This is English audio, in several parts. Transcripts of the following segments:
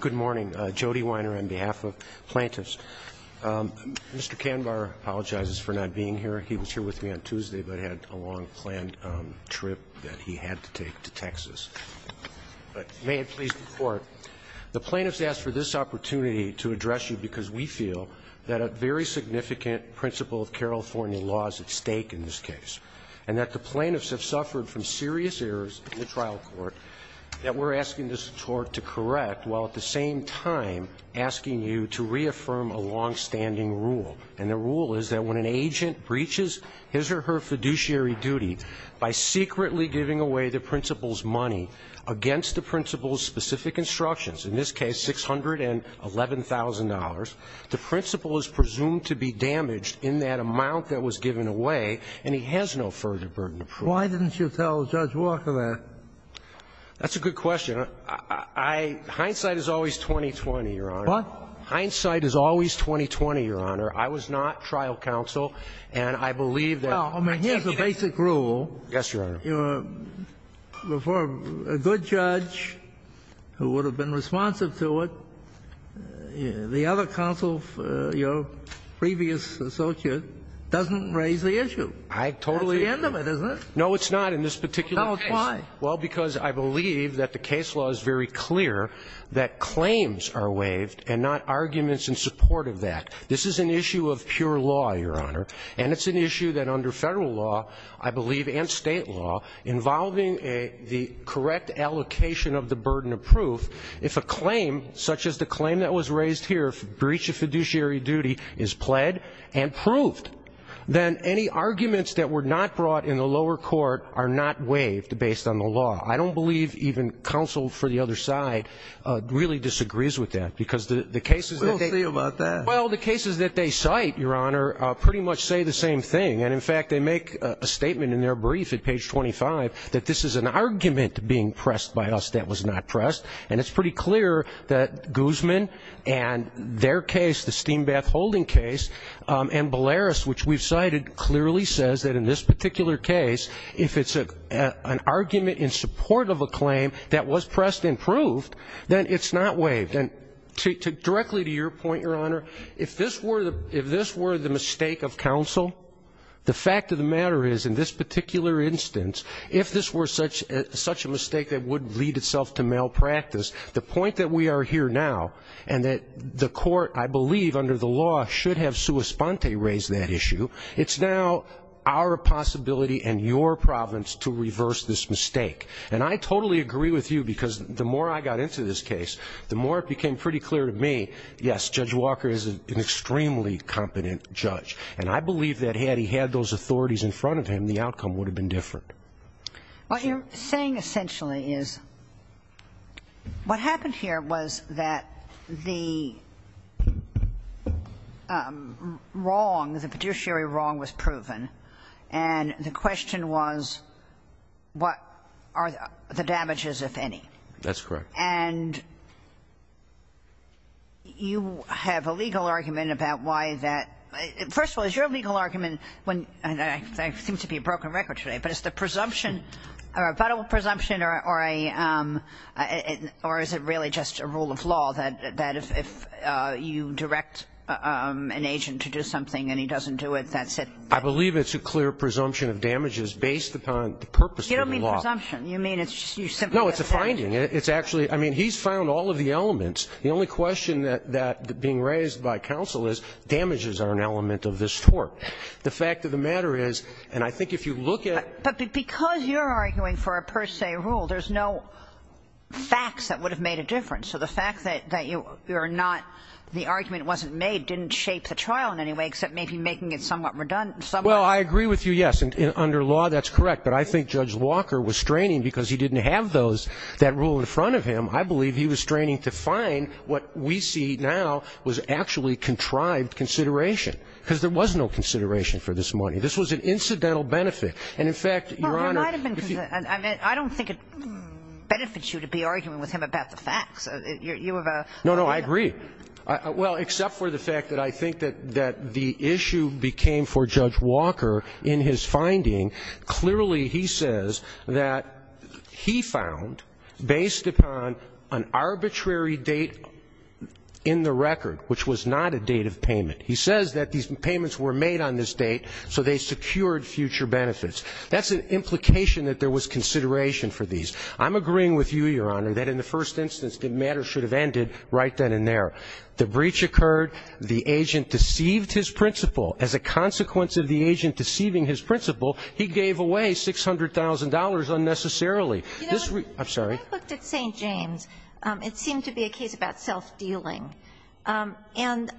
Good morning. Jody Weiner on behalf of plaintiffs. Mr. Kanbar apologizes for not being here. He was here with me on Tuesday, but had a long planned trip that he had to take to Texas. But may it please the Court, the plaintiffs ask for this opportunity to address you because we feel that a very significant principle of California law is at stake in this case, and that the plaintiffs have suffered from serious errors in the trial court that we're asking this Court to correct, while at the same time asking you to reaffirm a long-standing rule. And the rule is that when an agent breaches his or her fiduciary duty by secretly giving away the principal's money against the principal's specific instructions, in this case $611,000, the principal is presumed to be damaged in that amount that was given away, and he has no further burden to prove. Why didn't you tell Judge Walker that? That's a good question. I – hindsight is always 20-20, Your Honor. What? Hindsight is always 20-20, Your Honor. I was not trial counsel, and I believe that the basic rule before a good judge who would have been responsive to it, the other counsel, your previous associate, doesn't raise the issue. I totally agree. That's the end of it, isn't it? No, it's not in this particular case. Why? Well, because I believe that the case law is very clear that claims are waived and not arguments in support of that. This is an issue of pure law, Your Honor, and it's an issue that under federal law, I believe, and state law, involving the correct allocation of the burden of proof, if a claim such as the claim that was raised here, breach of fiduciary duty, is pled and proved, then any arguments that were not brought in the lower court are not waived based on the law. I don't believe even counsel for the other side really disagrees with that, because the cases that they – We'll see about that. Well, the cases that they cite, Your Honor, pretty much say the same thing. And, in fact, they make a statement in their brief at page 25 that this is an argument being pressed by us that was not pressed. And it's pretty clear that Guzman and their case, the Steambath-Holding case, and Bolaris, which we've cited, clearly says that in this particular case, if it's an argument in support of a claim that was pressed and proved, then it's not waived. And directly to your point, Your Honor, if this were the mistake of counsel, the fact of the matter is, in this particular instance, if this were such a mistake that would lead itself to malpractice, the point that we are here now and that the issue, it's now our possibility and your province to reverse this mistake. And I totally agree with you, because the more I got into this case, the more it became pretty clear to me, yes, Judge Walker is an extremely competent judge. And I believe that had he had those authorities in front of him, the outcome would have been different. What you're saying essentially is what happened here was that the wrong, the fiduciary wrong was proven, and the question was what are the damages, if any. That's correct. And you have a legal argument about why that – first of all, is your legal argument I seem to be a broken record today. But is the presumption or a presumption or a – or is it really just a rule of law that if you direct an agent to do something and he doesn't do it, that's it? I believe it's a clear presumption of damages based upon the purpose of the law. You don't mean presumption. You mean – No, it's a finding. It's actually – I mean, he's found all of the elements. The only question that's being raised by counsel is damages are an element of this court. The fact of the matter is, and I think if you look at – But because you're arguing for a per se rule, there's no facts that would have made a difference. So the fact that you're not – the argument wasn't made didn't shape the trial in any way except maybe making it somewhat redundant. Well, I agree with you, yes. Under law, that's correct. But I think Judge Walker was straining because he didn't have those – that rule in front of him. I believe he was straining to find what we see now was actually contrived consideration because there was no consideration for this money. This was an incidental benefit. And, in fact, Your Honor – Well, there might have been – I mean, I don't think it benefits you to be arguing with him about the facts. You have a – No, no. I agree. Well, except for the fact that I think that the issue became for Judge Walker in his finding, clearly he says that he found, based upon an arbitrary date in the record, which was not a date of payment. He says that these payments were made on this date, so they secured future benefits. That's an implication that there was consideration for these. I'm agreeing with you, Your Honor, that in the first instance, the matter should have ended right then and there. The breach occurred. The agent deceived his principal. As a consequence of the agent deceiving his principal, he gave away $600,000 unnecessarily. This – I'm sorry. When I looked at St. James, it seemed to be a case about self-dealing. And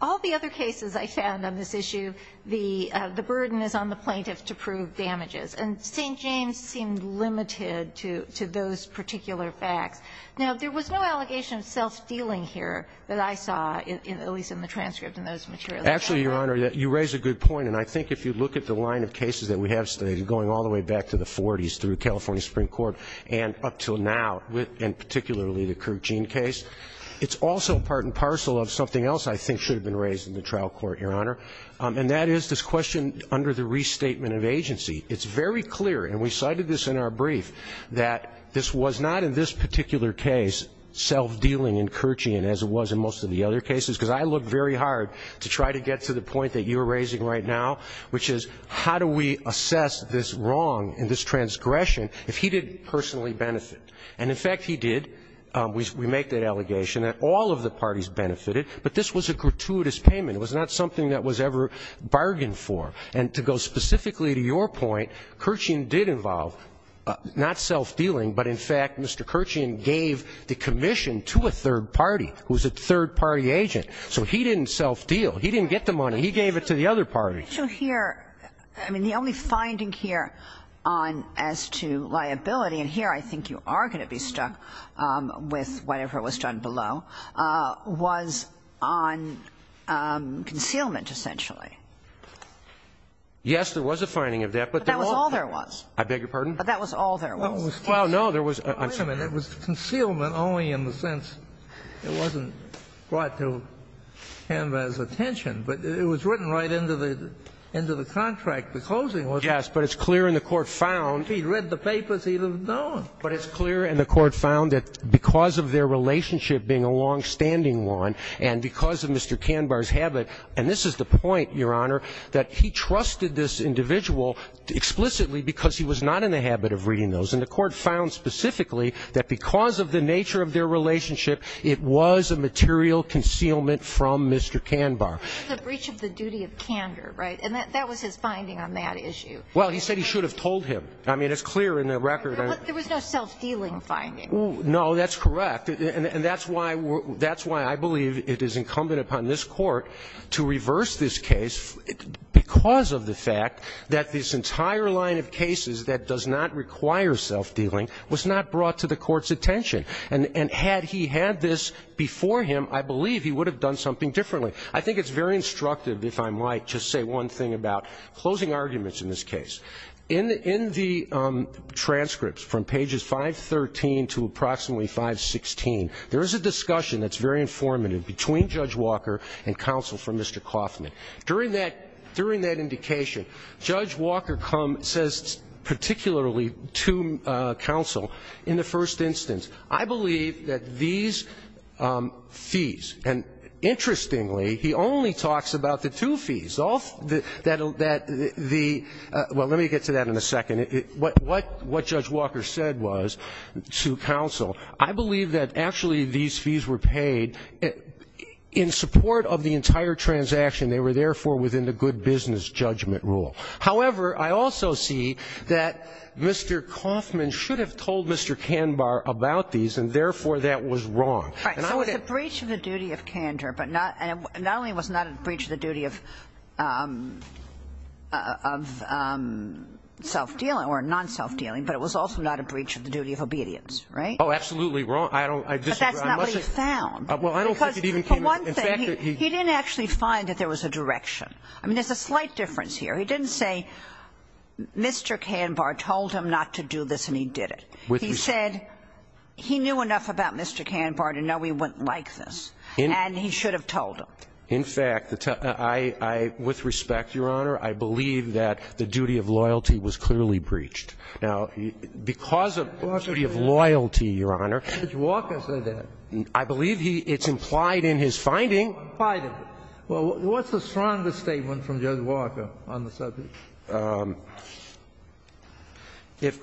all the other cases I found on this issue, the burden is on the plaintiff to prove damages. And St. James seemed limited to those particular facts. Now, there was no allegation of self-dealing here that I saw, at least in the transcript and those materials. Actually, Your Honor, you raise a good point. And I think if you look at the line of cases that we have today, going all the way back to the 40s through California Supreme Court and up until now, and particularly the Kerchein case, it's also part and parcel of something else I think should have been raised in the trial court, Your Honor. And that is this question under the restatement of agency. It's very clear, and we cited this in our brief, that this was not in this particular case self-dealing in Kerchein as it was in most of the other cases, because I looked very hard to try to get to the point that you're raising right now, which is how do we assess this wrong and this transgression if he didn't personally benefit? And, in fact, he did. We make that allegation that all of the parties benefited. But this was a gratuitous payment. It was not something that was ever bargained for. And to go specifically to your point, Kerchein did involve not self-dealing, but, in fact, Mr. Kerchein gave the commission to a third party who was a third party agent. So he didn't self-deal. He didn't get the money. He gave it to the other party. I mean, the only finding here on as to liability, and here I think you are going to be stuck with whatever was done below, was on concealment, essentially. Yes, there was a finding of that. But that was all there was. I beg your pardon? But that was all there was. Well, no, there was. Wait a minute. It was concealment only in the sense it wasn't brought to him as attention. But it was written right into the contract. The closing was. Yes, but it's clear, and the Court found. He read the papers. He would have known. But it's clear, and the Court found, that because of their relationship being a longstanding one and because of Mr. Kanbar's habit, and this is the point, Your Honor, that he trusted this individual explicitly because he was not in the habit of reading those. And the Court found specifically that because of the nature of their relationship, it was a material concealment from Mr. Kanbar. It was a breach of the duty of candor, right? And that was his finding on that issue. Well, he said he should have told him. I mean, it's clear in the record. There was no self-dealing finding. No, that's correct. And that's why I believe it is incumbent upon this Court to reverse this case because of the fact that this entire line of cases that does not require self-dealing was not brought to the Court's attention. And had he had this before him, I believe he would have done something differently. I think it's very instructive, if I might, to say one thing about closing arguments in this case. In the transcripts from pages 513 to approximately 516, there is a discussion that's very informative between Judge Walker and counsel for Mr. Kaufman. During that indication, Judge Walker says particularly to counsel in the first instance, I believe that these fees, and interestingly, he only talks about the two fees. That the – well, let me get to that in a second. What Judge Walker said was to counsel, I believe that actually these fees were paid in support of the entire transaction. They were therefore within the good business judgment rule. However, I also see that Mr. Kaufman should have told Mr. Kanbar about these, and therefore that was wrong. And I would have – Right. So it's a breach of the duty of candor, but not – and not only was it not a breach of the duty of self-dealing or non-self-dealing, but it was also not a breach of the duty of obedience, right? Oh, absolutely wrong. I don't – I disagree. But that's not what he found. Well, I don't think it even came out. In fact, he – He didn't actually find that there was a direction. I mean, there's a slight difference here. He didn't say Mr. Kanbar told him not to do this and he did it. He said he knew enough about Mr. Kanbar to know he wouldn't like this, and he should have told him. In fact, I – with respect, Your Honor, I believe that the duty of loyalty was clearly breached. Now, because of the duty of loyalty, Your Honor – Judge Walker said that. I believe he – it's implied in his finding. Implied in it. Well, what's the strongest statement from Judge Walker on the subject? If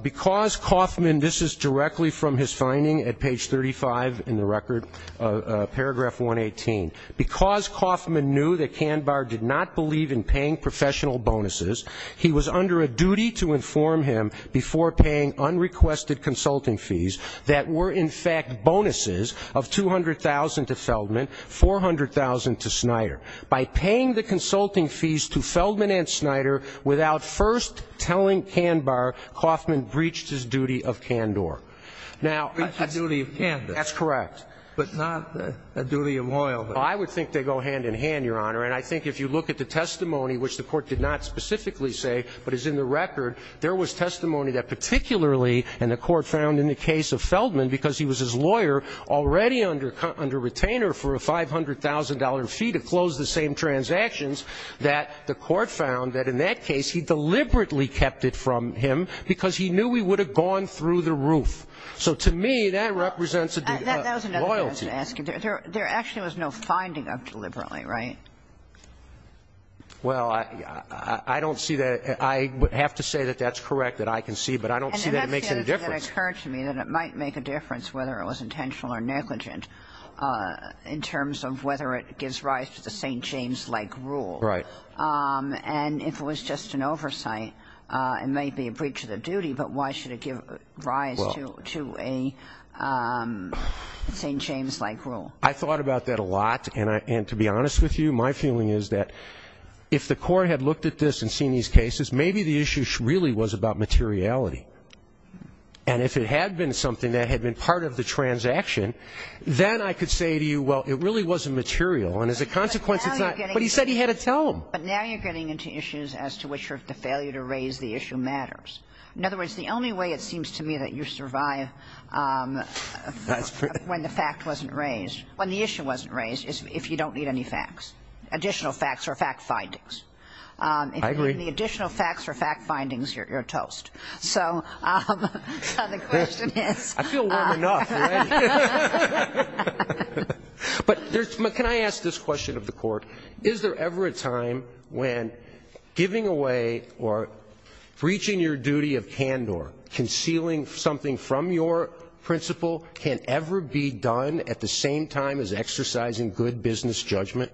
– because Kaufman – this is directly from his finding at page 35 in the record, paragraph 118. Because Kaufman knew that Kanbar did not believe in paying professional bonuses, he was under a duty to inform him before paying unrequested consulting fees that were, in fact, bonuses of $200,000 to Feldman, $400,000 to Snyder. By paying the consulting fees to Feldman and Snyder without first telling Kanbar, Kaufman breached his duty of candor. Now – Breached the duty of candor. That's correct. But not a duty of loyalty. Well, I would think they go hand in hand, Your Honor. And I think if you look at the testimony, which the Court did not specifically say, but is in the record, there was testimony that particularly – and the Court found in the case of Feldman, because he was his lawyer, already under – under retainer for a $500,000 fee to close the same transactions, that the Court found that in that case he deliberately kept it from him because he knew he would have gone through the roof. So to me, that represents a duty of loyalty. That was another thing I was going to ask you. There actually was no finding of deliberately, right? Well, I don't see that – I would have to say that that's correct, that I can see, but I don't see that it makes any difference. But it occurred to me that it might make a difference whether it was intentional or negligent in terms of whether it gives rise to the St. James-like rule. Right. And if it was just an oversight, it may be a breach of the duty, but why should it give rise to a St. James-like rule? I thought about that a lot. And to be honest with you, my feeling is that if the Court had looked at this and seen these cases, maybe the issue really was about materiality. And if it had been something that had been part of the transaction, then I could say to you, well, it really wasn't material. And as a consequence, it's not – but he said he had to tell them. But now you're getting into issues as to which the failure to raise the issue matters. In other words, the only way it seems to me that you survive when the fact wasn't raised, when the issue wasn't raised, is if you don't need any facts, additional facts or fact findings. I agree. If you need the additional facts or fact findings, you're toast. So the question is – I feel warm enough already. But can I ask this question of the Court? Is there ever a time when giving away or breaching your duty of candor, concealing something from your principle can ever be done at the same time as exercising good business judgment?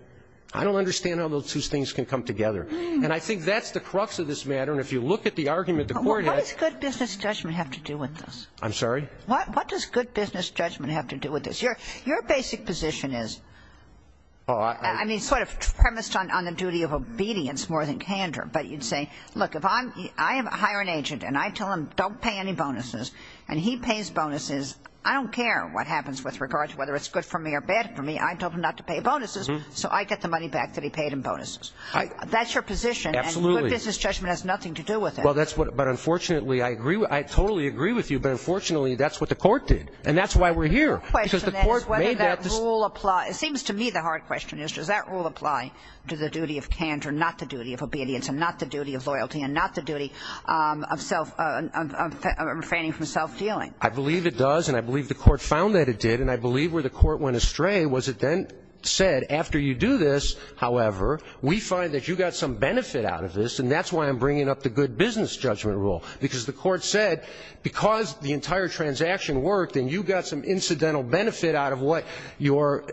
I don't understand how those two things can come together. And I think that's the crux of this matter. And if you look at the argument the Court has – What does good business judgment have to do with this? I'm sorry? What does good business judgment have to do with this? Your basic position is – I mean, sort of premised on the duty of obedience more than candor. But you'd say, look, if I hire an agent and I tell him don't pay any bonuses and he pays bonuses, I don't care what happens with regard to whether it's good for me or bad for me. I told him not to pay bonuses, so I get the money back that he paid in bonuses. That's your position. Absolutely. Good business judgment has nothing to do with it. Well, that's what – but unfortunately I agree – I totally agree with you, but unfortunately that's what the Court did. And that's why we're here. The question is whether that rule applies – it seems to me the hard question is, does that rule apply to the duty of candor, not the duty of obedience, and not the duty of loyalty, and not the duty of self – of refraining from self-dealing? I believe it does, and I believe the Court found that it did. And I believe where the Court went astray was it then said, after you do this, however, we find that you got some benefit out of this, and that's why I'm bringing up the good business judgment rule, because the Court said because the entire transaction worked and you got some incidental benefit out of what your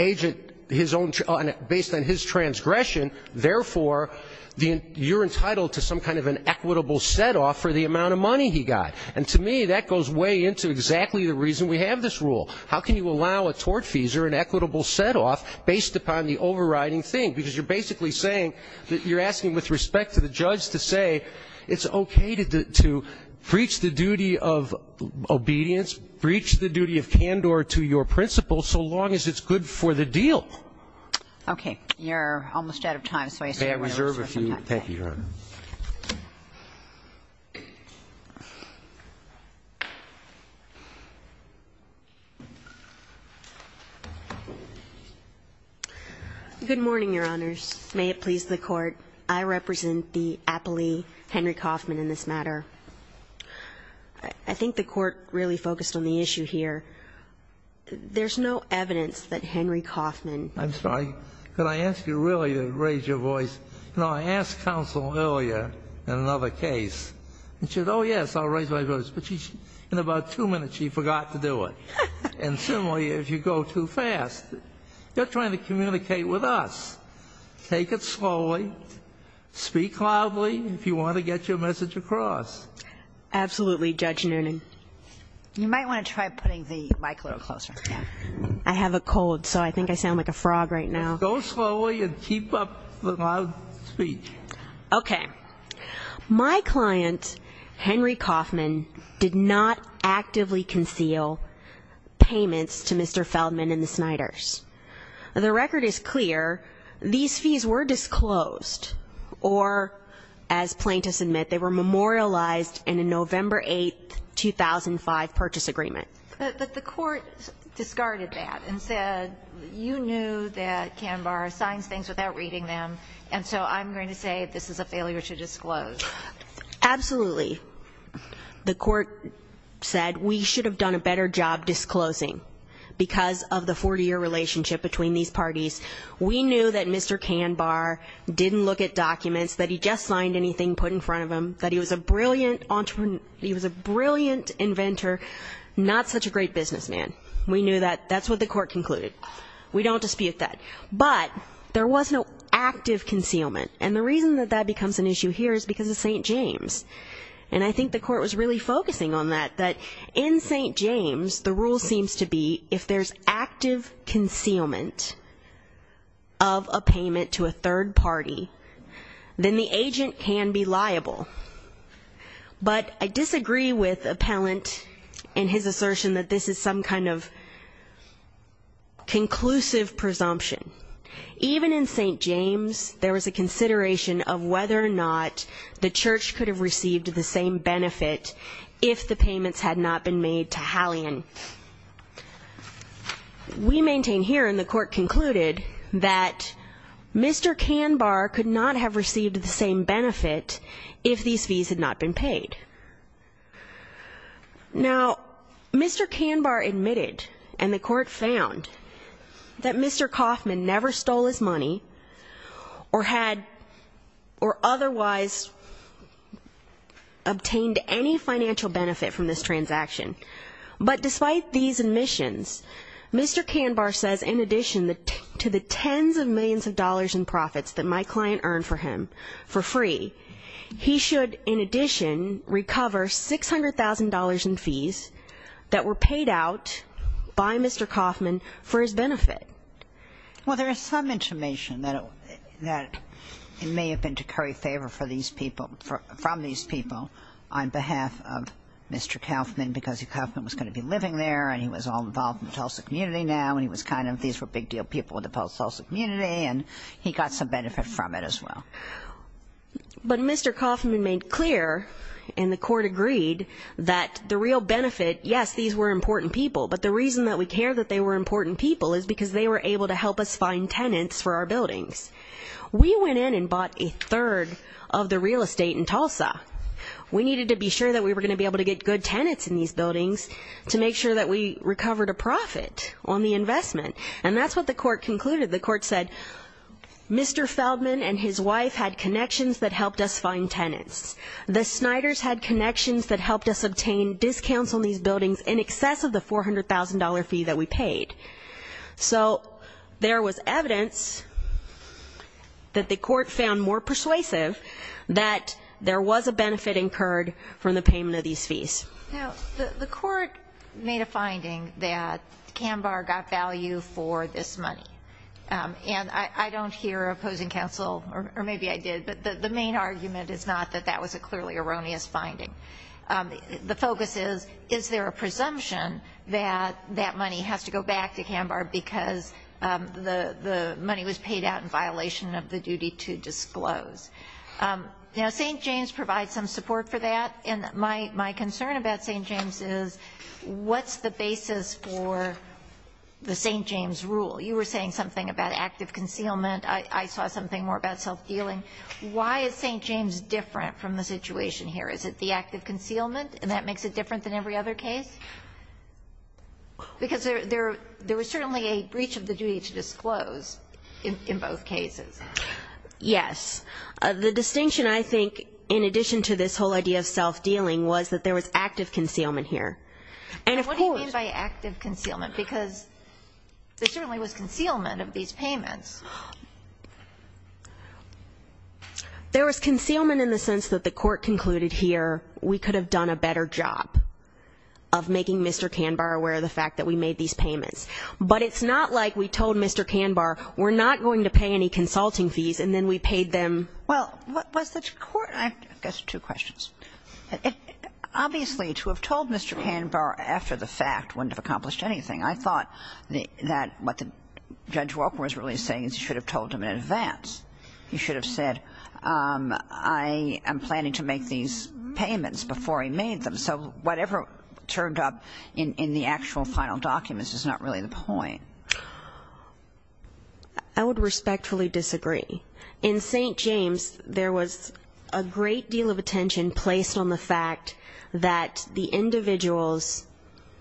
agent – based on his transgression, therefore you're entitled to some kind of an equitable set-off for the amount of money he got. And to me that goes way into exactly the reason we have this rule. How can you allow a tort fees or an equitable set-off based upon the overriding thing? Because you're basically saying that you're asking with respect to the judge to say it's okay to breach the duty of obedience, breach the duty of candor to your principal, so long as it's good for the deal. Okay. You're almost out of time, so I assume we have some time. May I reserve a few minutes? Thank you, Your Honor. Good morning, Your Honors. May it please the Court. I represent the appellee, Henry Kaufman, in this matter. I think the Court really focused on the issue here. There's no evidence that Henry Kaufman – I'm sorry. Could I ask you really to raise your voice? You know, I asked counsel earlier in another case, and she said, oh, yes, I'll raise my voice. But in about two minutes she forgot to do it. And similarly, if you go too fast, you're trying to communicate with us. Take it slowly. Speak loudly if you want to get your message across. Absolutely, Judge Noonan. You might want to try putting the mic a little closer. I have a cold, so I think I sound like a frog right now. Go slowly and keep up the loud speech. Okay. My client, Henry Kaufman, did not actively conceal payments to Mr. Feldman and the Snyders. The record is clear. These fees were disclosed, or, as plaintiffs admit, they were memorialized in a November 8, 2005 purchase agreement. But the court discarded that and said, you knew that Kanbar signs things without reading them, and so I'm going to say this is a failure to disclose. Absolutely. The court said we should have done a better job disclosing because of the 40-year relationship between these parties. We knew that Mr. Kanbar didn't look at documents, that he just signed anything put in front of him, that he was a brilliant entrepreneur, he was a brilliant inventor, not such a great businessman. We knew that. That's what the court concluded. We don't dispute that. But there was no active concealment, and the reason that that becomes an issue here is because of St. James. And I think the court was really focusing on that, that in St. James, the rule seems to be if there's active concealment of a payment to a third party, then the agent can be liable. But I disagree with Appellant in his assertion that this is some kind of conclusive presumption. Even in St. James, there was a consideration of whether or not the church could have received the same benefit if the payments had not been made to Hallian. We maintain here, and the court concluded, that Mr. Kanbar could not have received the same benefit if these fees had not been paid. Now, Mr. Kanbar admitted, and the court found, that Mr. Kaufman never stole his money or had or otherwise obtained any financial benefit from this transaction. But despite these admissions, Mr. Kanbar says, in addition to the tens of millions of dollars in profits that my client earned for him for free, he should, in addition, recover $600,000 in fees that were paid out by Mr. Kaufman for his benefit. Well, there is some information that it may have been to curry favor from these people on behalf of Mr. Kaufman, because Mr. Kaufman was going to be living there, and he was all involved in the Tulsa community now, and he was kind of, these were big deal people in the Tulsa community, and he got some benefit from it as well. But Mr. Kaufman made clear, and the court agreed, that the real benefit, yes, these were important people, but the reason that we care that they were important people is because they were able to help us find tenants for our buildings. We went in and bought a third of the real estate in Tulsa. We needed to be sure that we were going to be able to get good tenants in these buildings to make sure that we recovered a profit on the investment, and that's what the court concluded. The court said, Mr. Feldman and his wife had connections that helped us find tenants. The Snyders had connections that helped us obtain discounts on these buildings in excess of the $400,000 fee that we paid. So there was evidence that the court found more persuasive that there was a benefit incurred from the payment of these fees. Now, the court made a finding that Kambar got value for this money, and I don't hear opposing counsel, or maybe I did, but the main argument is not that that was a clearly erroneous finding. The focus is, is there a presumption that that money has to go back to Kambar because the money was paid out in violation of the duty to disclose? Now, St. James provides some support for that, and my concern about St. James is what's the basis for the St. James rule? You were saying something about active concealment. I saw something more about self-dealing. Why is St. James different from the situation here? Is it the active concealment, and that makes it different than every other case? Because there was certainly a breach of the duty to disclose in both cases. Yes. The distinction, I think, in addition to this whole idea of self-dealing was that there was active concealment here. And what do you mean by active concealment? Because there certainly was concealment of these payments. There was concealment in the sense that the court concluded here we could have done a better job of making Mr. Kambar aware of the fact that we made these payments. But it's not like we told Mr. Kambar we're not going to pay any consulting fees and then we paid them. Well, I guess two questions. Obviously, to have told Mr. Kambar after the fact wouldn't have accomplished anything. I thought that what Judge Walker was really saying is you should have told him in advance. You should have said I am planning to make these payments before he made them. So whatever turned up in the actual final documents is not really the point. I would respectfully disagree. In St. James, there was a great deal of attention placed on the fact that the individuals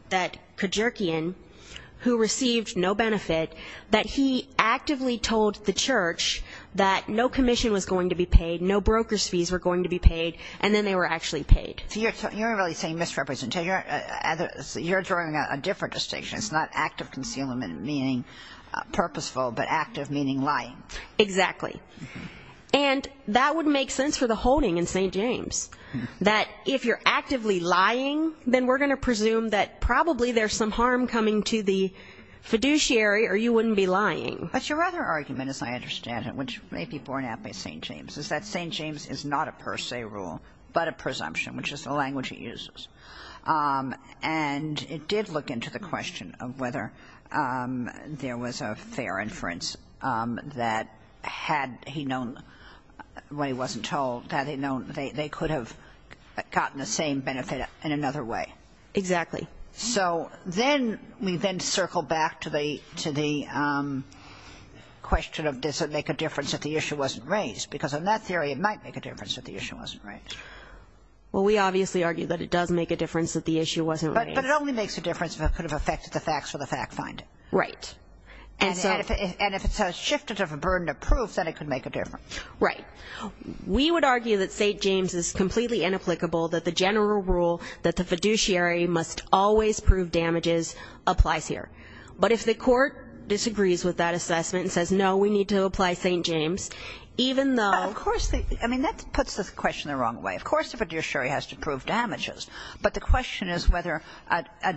that Kajurkian, who received no benefit, that he actively told the church that no commission was going to be paid, no broker's fees were going to be paid, and then they were actually paid. So you're really saying misrepresentation. You're drawing a different distinction. It's not active concealment meaning purposeful, but active meaning lying. Exactly. And that would make sense for the holding in St. James, that if you're actively lying, then we're going to presume that probably there's some harm coming to the fiduciary or you wouldn't be lying. But your other argument, as I understand it, which may be borne out by St. James, is that St. James is not a per se rule, but a presumption, which is the language it uses. And it did look into the question of whether there was a fair inference that had he known when he wasn't told, they could have gotten the same benefit in another way. Exactly. So then we then circle back to the question of does it make a difference if the issue wasn't raised, because in that theory it might make a difference if the issue wasn't raised. Well, we obviously argue that it does make a difference if the issue wasn't raised. But it only makes a difference if it could have affected the facts or the fact finder. Right. And if it's shifted of a burden of proof, then it could make a difference. Right. We would argue that St. James is completely inapplicable, that the general rule that the fiduciary must always prove damages applies here. But if the court disagrees with that assessment and says, no, we need to apply St. James, Of course. I mean, that puts the question the wrong way. Of course the fiduciary has to prove damages. But the question is whether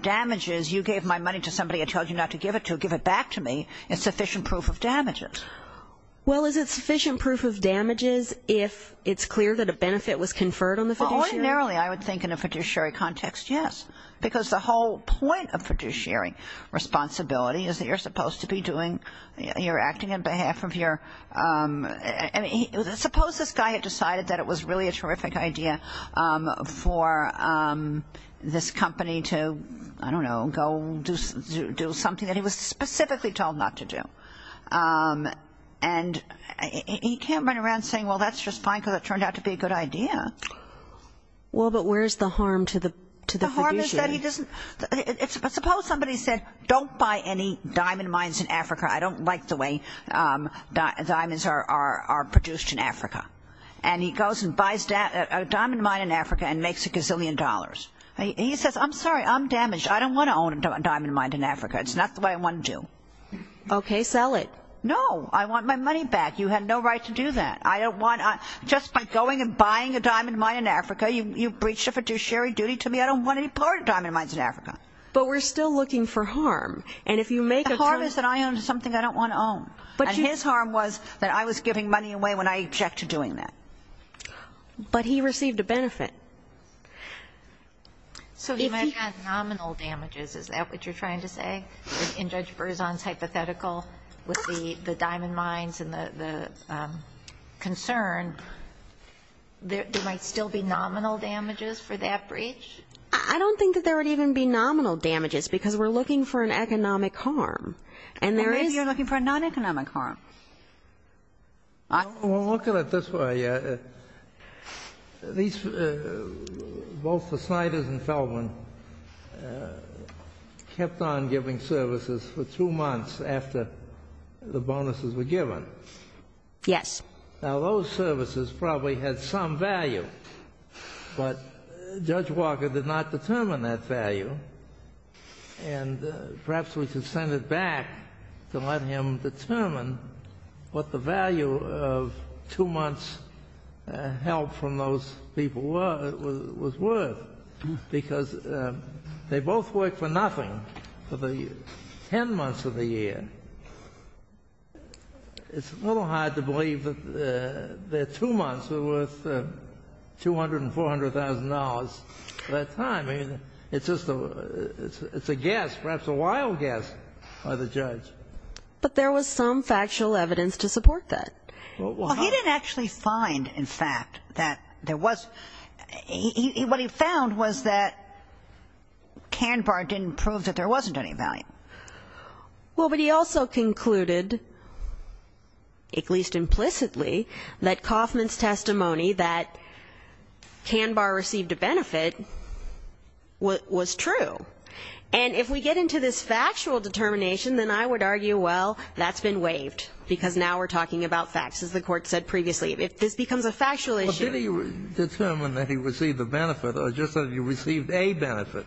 damages, you gave my money to somebody I told you not to give it to, give it back to me, is sufficient proof of damages. Well, is it sufficient proof of damages if it's clear that a benefit was conferred on the fiduciary? Well, ordinarily I would think in a fiduciary context, yes, because the whole point of fiduciary responsibility is that you're supposed to be doing, you're acting on behalf of your, I mean, suppose this guy had decided that it was really a terrific idea for this company to, I don't know, go do something that he was specifically told not to do. And he can't run around saying, well, that's just fine because it turned out to be a good idea. Well, but where's the harm to the fiduciary? Suppose somebody said, don't buy any diamond mines in Africa. I don't like the way diamonds are produced in Africa. And he goes and buys a diamond mine in Africa and makes a gazillion dollars. He says, I'm sorry, I'm damaged. I don't want to own a diamond mine in Africa. It's not the way I want to do. Okay, sell it. No. I want my money back. You have no right to do that. I don't want, just by going and buying a diamond mine in Africa, you've breached a fiduciary duty to me. I don't want any part of diamond mines in Africa. But we're still looking for harm. And if you make a term. The harm is that I own something I don't want to own. And his harm was that I was giving money away when I object to doing that. But he received a benefit. So he might have had nominal damages. Is that what you're trying to say? In Judge Berzon's hypothetical with the diamond mines and the concern, there might still be nominal damages for that breach? I don't think that there would even be nominal damages because we're looking for an economic harm. And there is. And maybe you're looking for a non-economic harm. Well, look at it this way. Both the Sniders and Feldman kept on giving services for two months after the bonuses were given. Yes. Now, those services probably had some value. But Judge Walker did not determine that value. And perhaps we should send it back to let him determine what the value of two months' help from those people was worth. Because they both worked for nothing for the ten months of the year. It's a little hard to believe that two months were worth $200,000 and $400,000 at that time. I mean, it's just a guess, perhaps a wild guess by the judge. But there was some factual evidence to support that. Well, he didn't actually find, in fact, that there was. What he found was that Canbar didn't prove that there wasn't any value. Well, but he also concluded, at least implicitly, that Kaufman's testimony that Canbar received a benefit was true. And if we get into this factual determination, then I would argue, well, that's been waived, because now we're talking about facts, as the Court said previously. If this becomes a factual issue ---- But did he determine that he received a benefit or just that he received a benefit?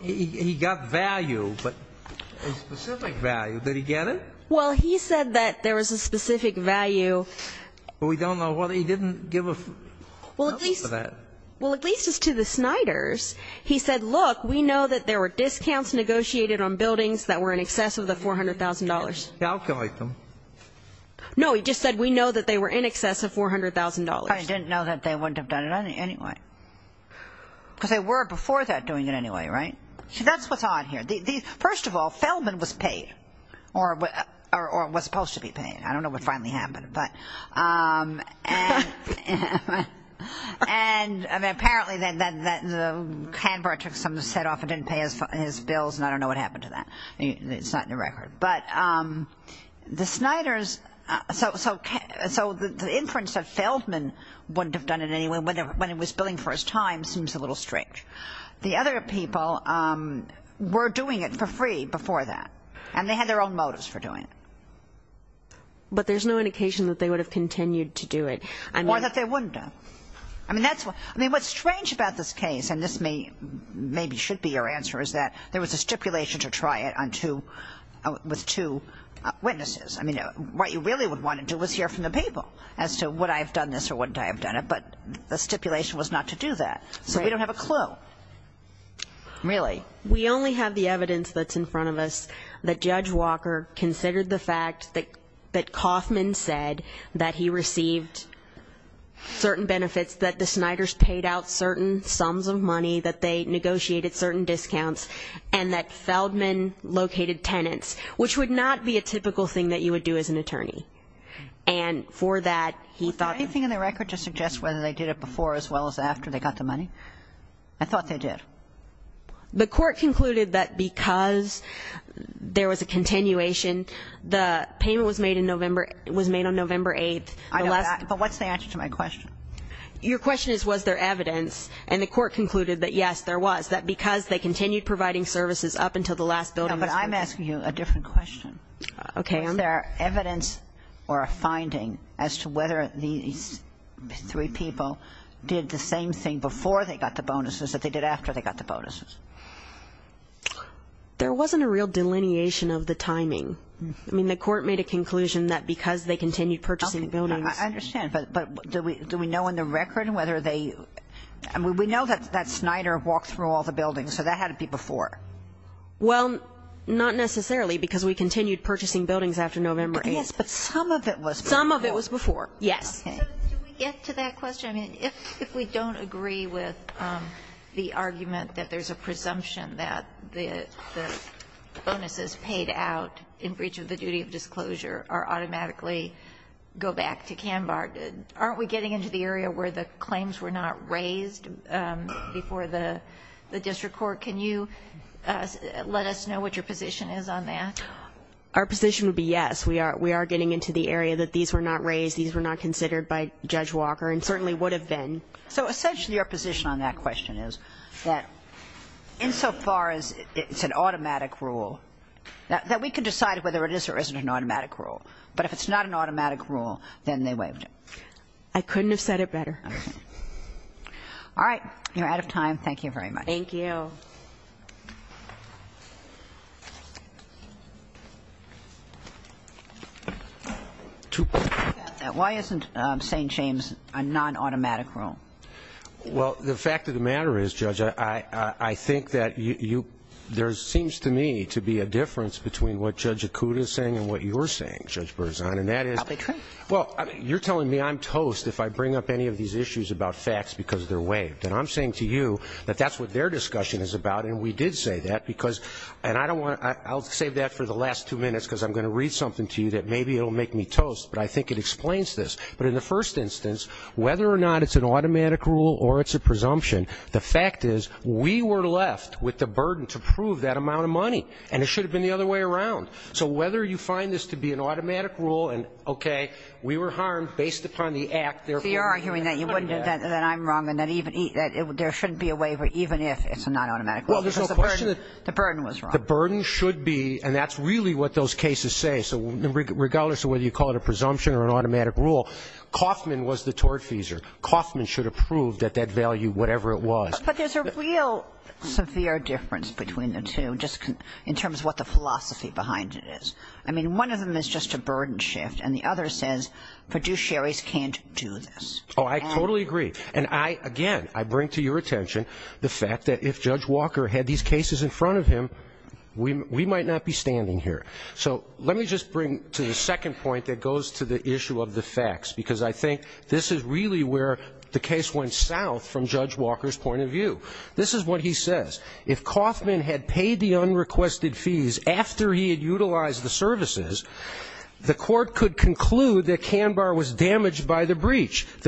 He got value, but a specific value. Did he get it? Well, he said that there was a specific value. But we don't know whether he didn't give a value for that. Well, at least as to the Snyders, he said, look, we know that there were discounts negotiated on buildings that were in excess of the $400,000. He didn't calculate them. No, he just said we know that they were in excess of $400,000. But he didn't know that they wouldn't have done it anyway, because they were before that doing it anyway, right? See, that's what's odd here. First of all, Feldman was paid or was supposed to be paid. I don't know what finally happened. And apparently Canbar took some of the set off and didn't pay his bills, and I don't know what happened to that. It's not in the record. So the inference that Feldman wouldn't have done it anyway when he was billing for his time seems a little strange. The other people were doing it for free before that, and they had their own motives for doing it. But there's no indication that they would have continued to do it. Or that they wouldn't have. I mean, what's strange about this case, and this maybe should be your answer, is that there was a stipulation to try it with two witnesses. I mean, what you really would want to do is hear from the people as to would I have done this or wouldn't I have done it. But the stipulation was not to do that. So we don't have a clue. Really? We only have the evidence that's in front of us that Judge Walker considered the fact that Kaufman said that he received certain benefits, that the Snyders paid out certain sums of money, that they negotiated certain discounts, and that Feldman located tenants, which would not be a typical thing that you would do as an attorney. And for that, he thought that the court concluded that because there was a continuation, the payment was made on November 8th. But what's the answer to my question? Your question is was there evidence. And the court concluded that, yes, there was. That because they continued providing services up until the last building. But I'm asking you a different question. Okay. Was there evidence or a finding as to whether these three people did the same thing before they got the bonuses that they did after they got the bonuses? There wasn't a real delineation of the timing. I mean, the court made a conclusion that because they continued purchasing buildings. Okay. I understand. But do we know in the record whether they – I mean, we know that Snyder walked through all the buildings, so that had to be before. Well, not necessarily, because we continued purchasing buildings after November 8th. Yes, but some of it was before. Some of it was before, yes. Okay. So do we get to that question? I mean, if we don't agree with the argument that there's a presumption that the bonuses paid out in breach of the duty of disclosure are automatically go back to Kanbar, aren't we getting into the area where the claims were not raised before the district court? Can you let us know what your position is on that? Our position would be yes. We are getting into the area that these were not raised. These were not considered by Judge Walker. And certainly would have been. So essentially your position on that question is that insofar as it's an automatic rule, that we can decide whether it is or isn't an automatic rule. But if it's not an automatic rule, then they waived it. I couldn't have said it better. All right. You're out of time. Thank you very much. Thank you. Thank you. Why isn't St. James a non-automatic rule? Well, the fact of the matter is, Judge, I think that you – there seems to me to be a difference between what Judge Akuta is saying and what you're saying, Judge Berzon, and that is you're telling me I'm toast if I bring up any of these issues about facts because they're waived. And I'm saying to you that that's what their discussion is about, and we did say that, because – and I don't want to – I'll save that for the last two minutes because I'm going to read something to you that maybe it will make me toast, but I think it explains this. But in the first instance, whether or not it's an automatic rule or it's a presumption, the fact is we were left with the burden to prove that amount of money, and it should have been the other way around. So whether you find this to be an automatic rule and, okay, we were harmed based upon the act, therefore – You're arguing that you wouldn't – that I'm wrong and that even – that there shouldn't be a waiver even if it's a non-automatic rule because the burden was wrong. Well, there's no question that the burden should be – and that's really what those cases say. So regardless of whether you call it a presumption or an automatic rule, Kauffman was the tortfeasor. Kauffman should have proved at that value whatever it was. But there's a real severe difference between the two just in terms of what the philosophy behind it is. I mean, one of them is just a burden shift, and the other says fiduciaries can't do this. Oh, I totally agree. And I – again, I bring to your attention the fact that if Judge Walker had these cases in front of him, we might not be standing here. So let me just bring to the second point that goes to the issue of the facts because I think this is really where the case went south from Judge Walker's point of view. This is what he says. If Kauffman had paid the unrequested fees after he had utilized the services, the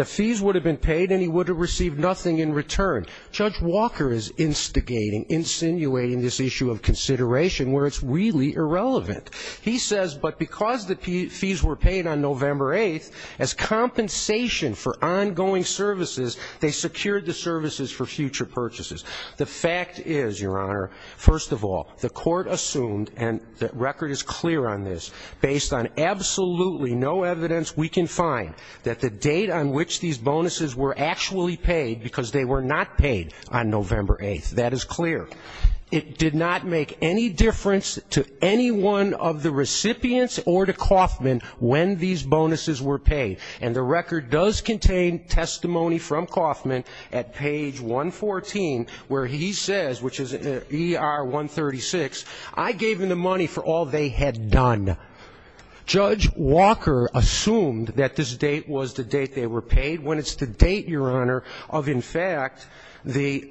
fees would have been paid and he would have received nothing in return. Judge Walker is instigating, insinuating this issue of consideration where it's really irrelevant. He says, but because the fees were paid on November 8th, as compensation for ongoing services, they secured the services for future purchases. The fact is, Your Honor, first of all, the court assumed, and the record is clear on this, based on absolutely no evidence we can find that the date on which these bonuses were actually paid, because they were not paid on November 8th, that is clear. It did not make any difference to any one of the recipients or to Kauffman when these bonuses were paid. And the record does contain testimony from Kauffman at page 114 where he says, which is ER 136, I gave them the money for all they had done. Judge Walker assumed that this date was the date they were paid, when it's the date, Your Honor, of, in fact, the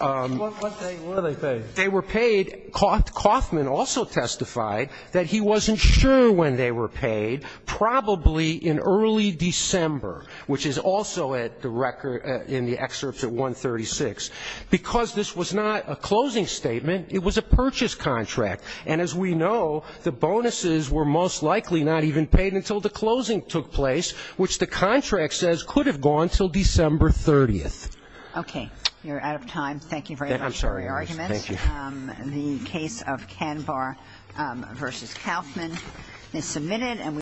---- What date were they paid? They were paid. Kauffman also testified that he wasn't sure when they were paid, probably in early December, which is also at the record in the excerpts at 136. Because this was not a closing statement, it was a purchase contract. And as we know, the bonuses were most likely not even paid until the closing took place, which the contract says could have gone until December 30th. Okay. You're out of time. Thank you very much for your arguments. I'm sorry. Thank you. The case of Kanbar v. Kauffman is submitted.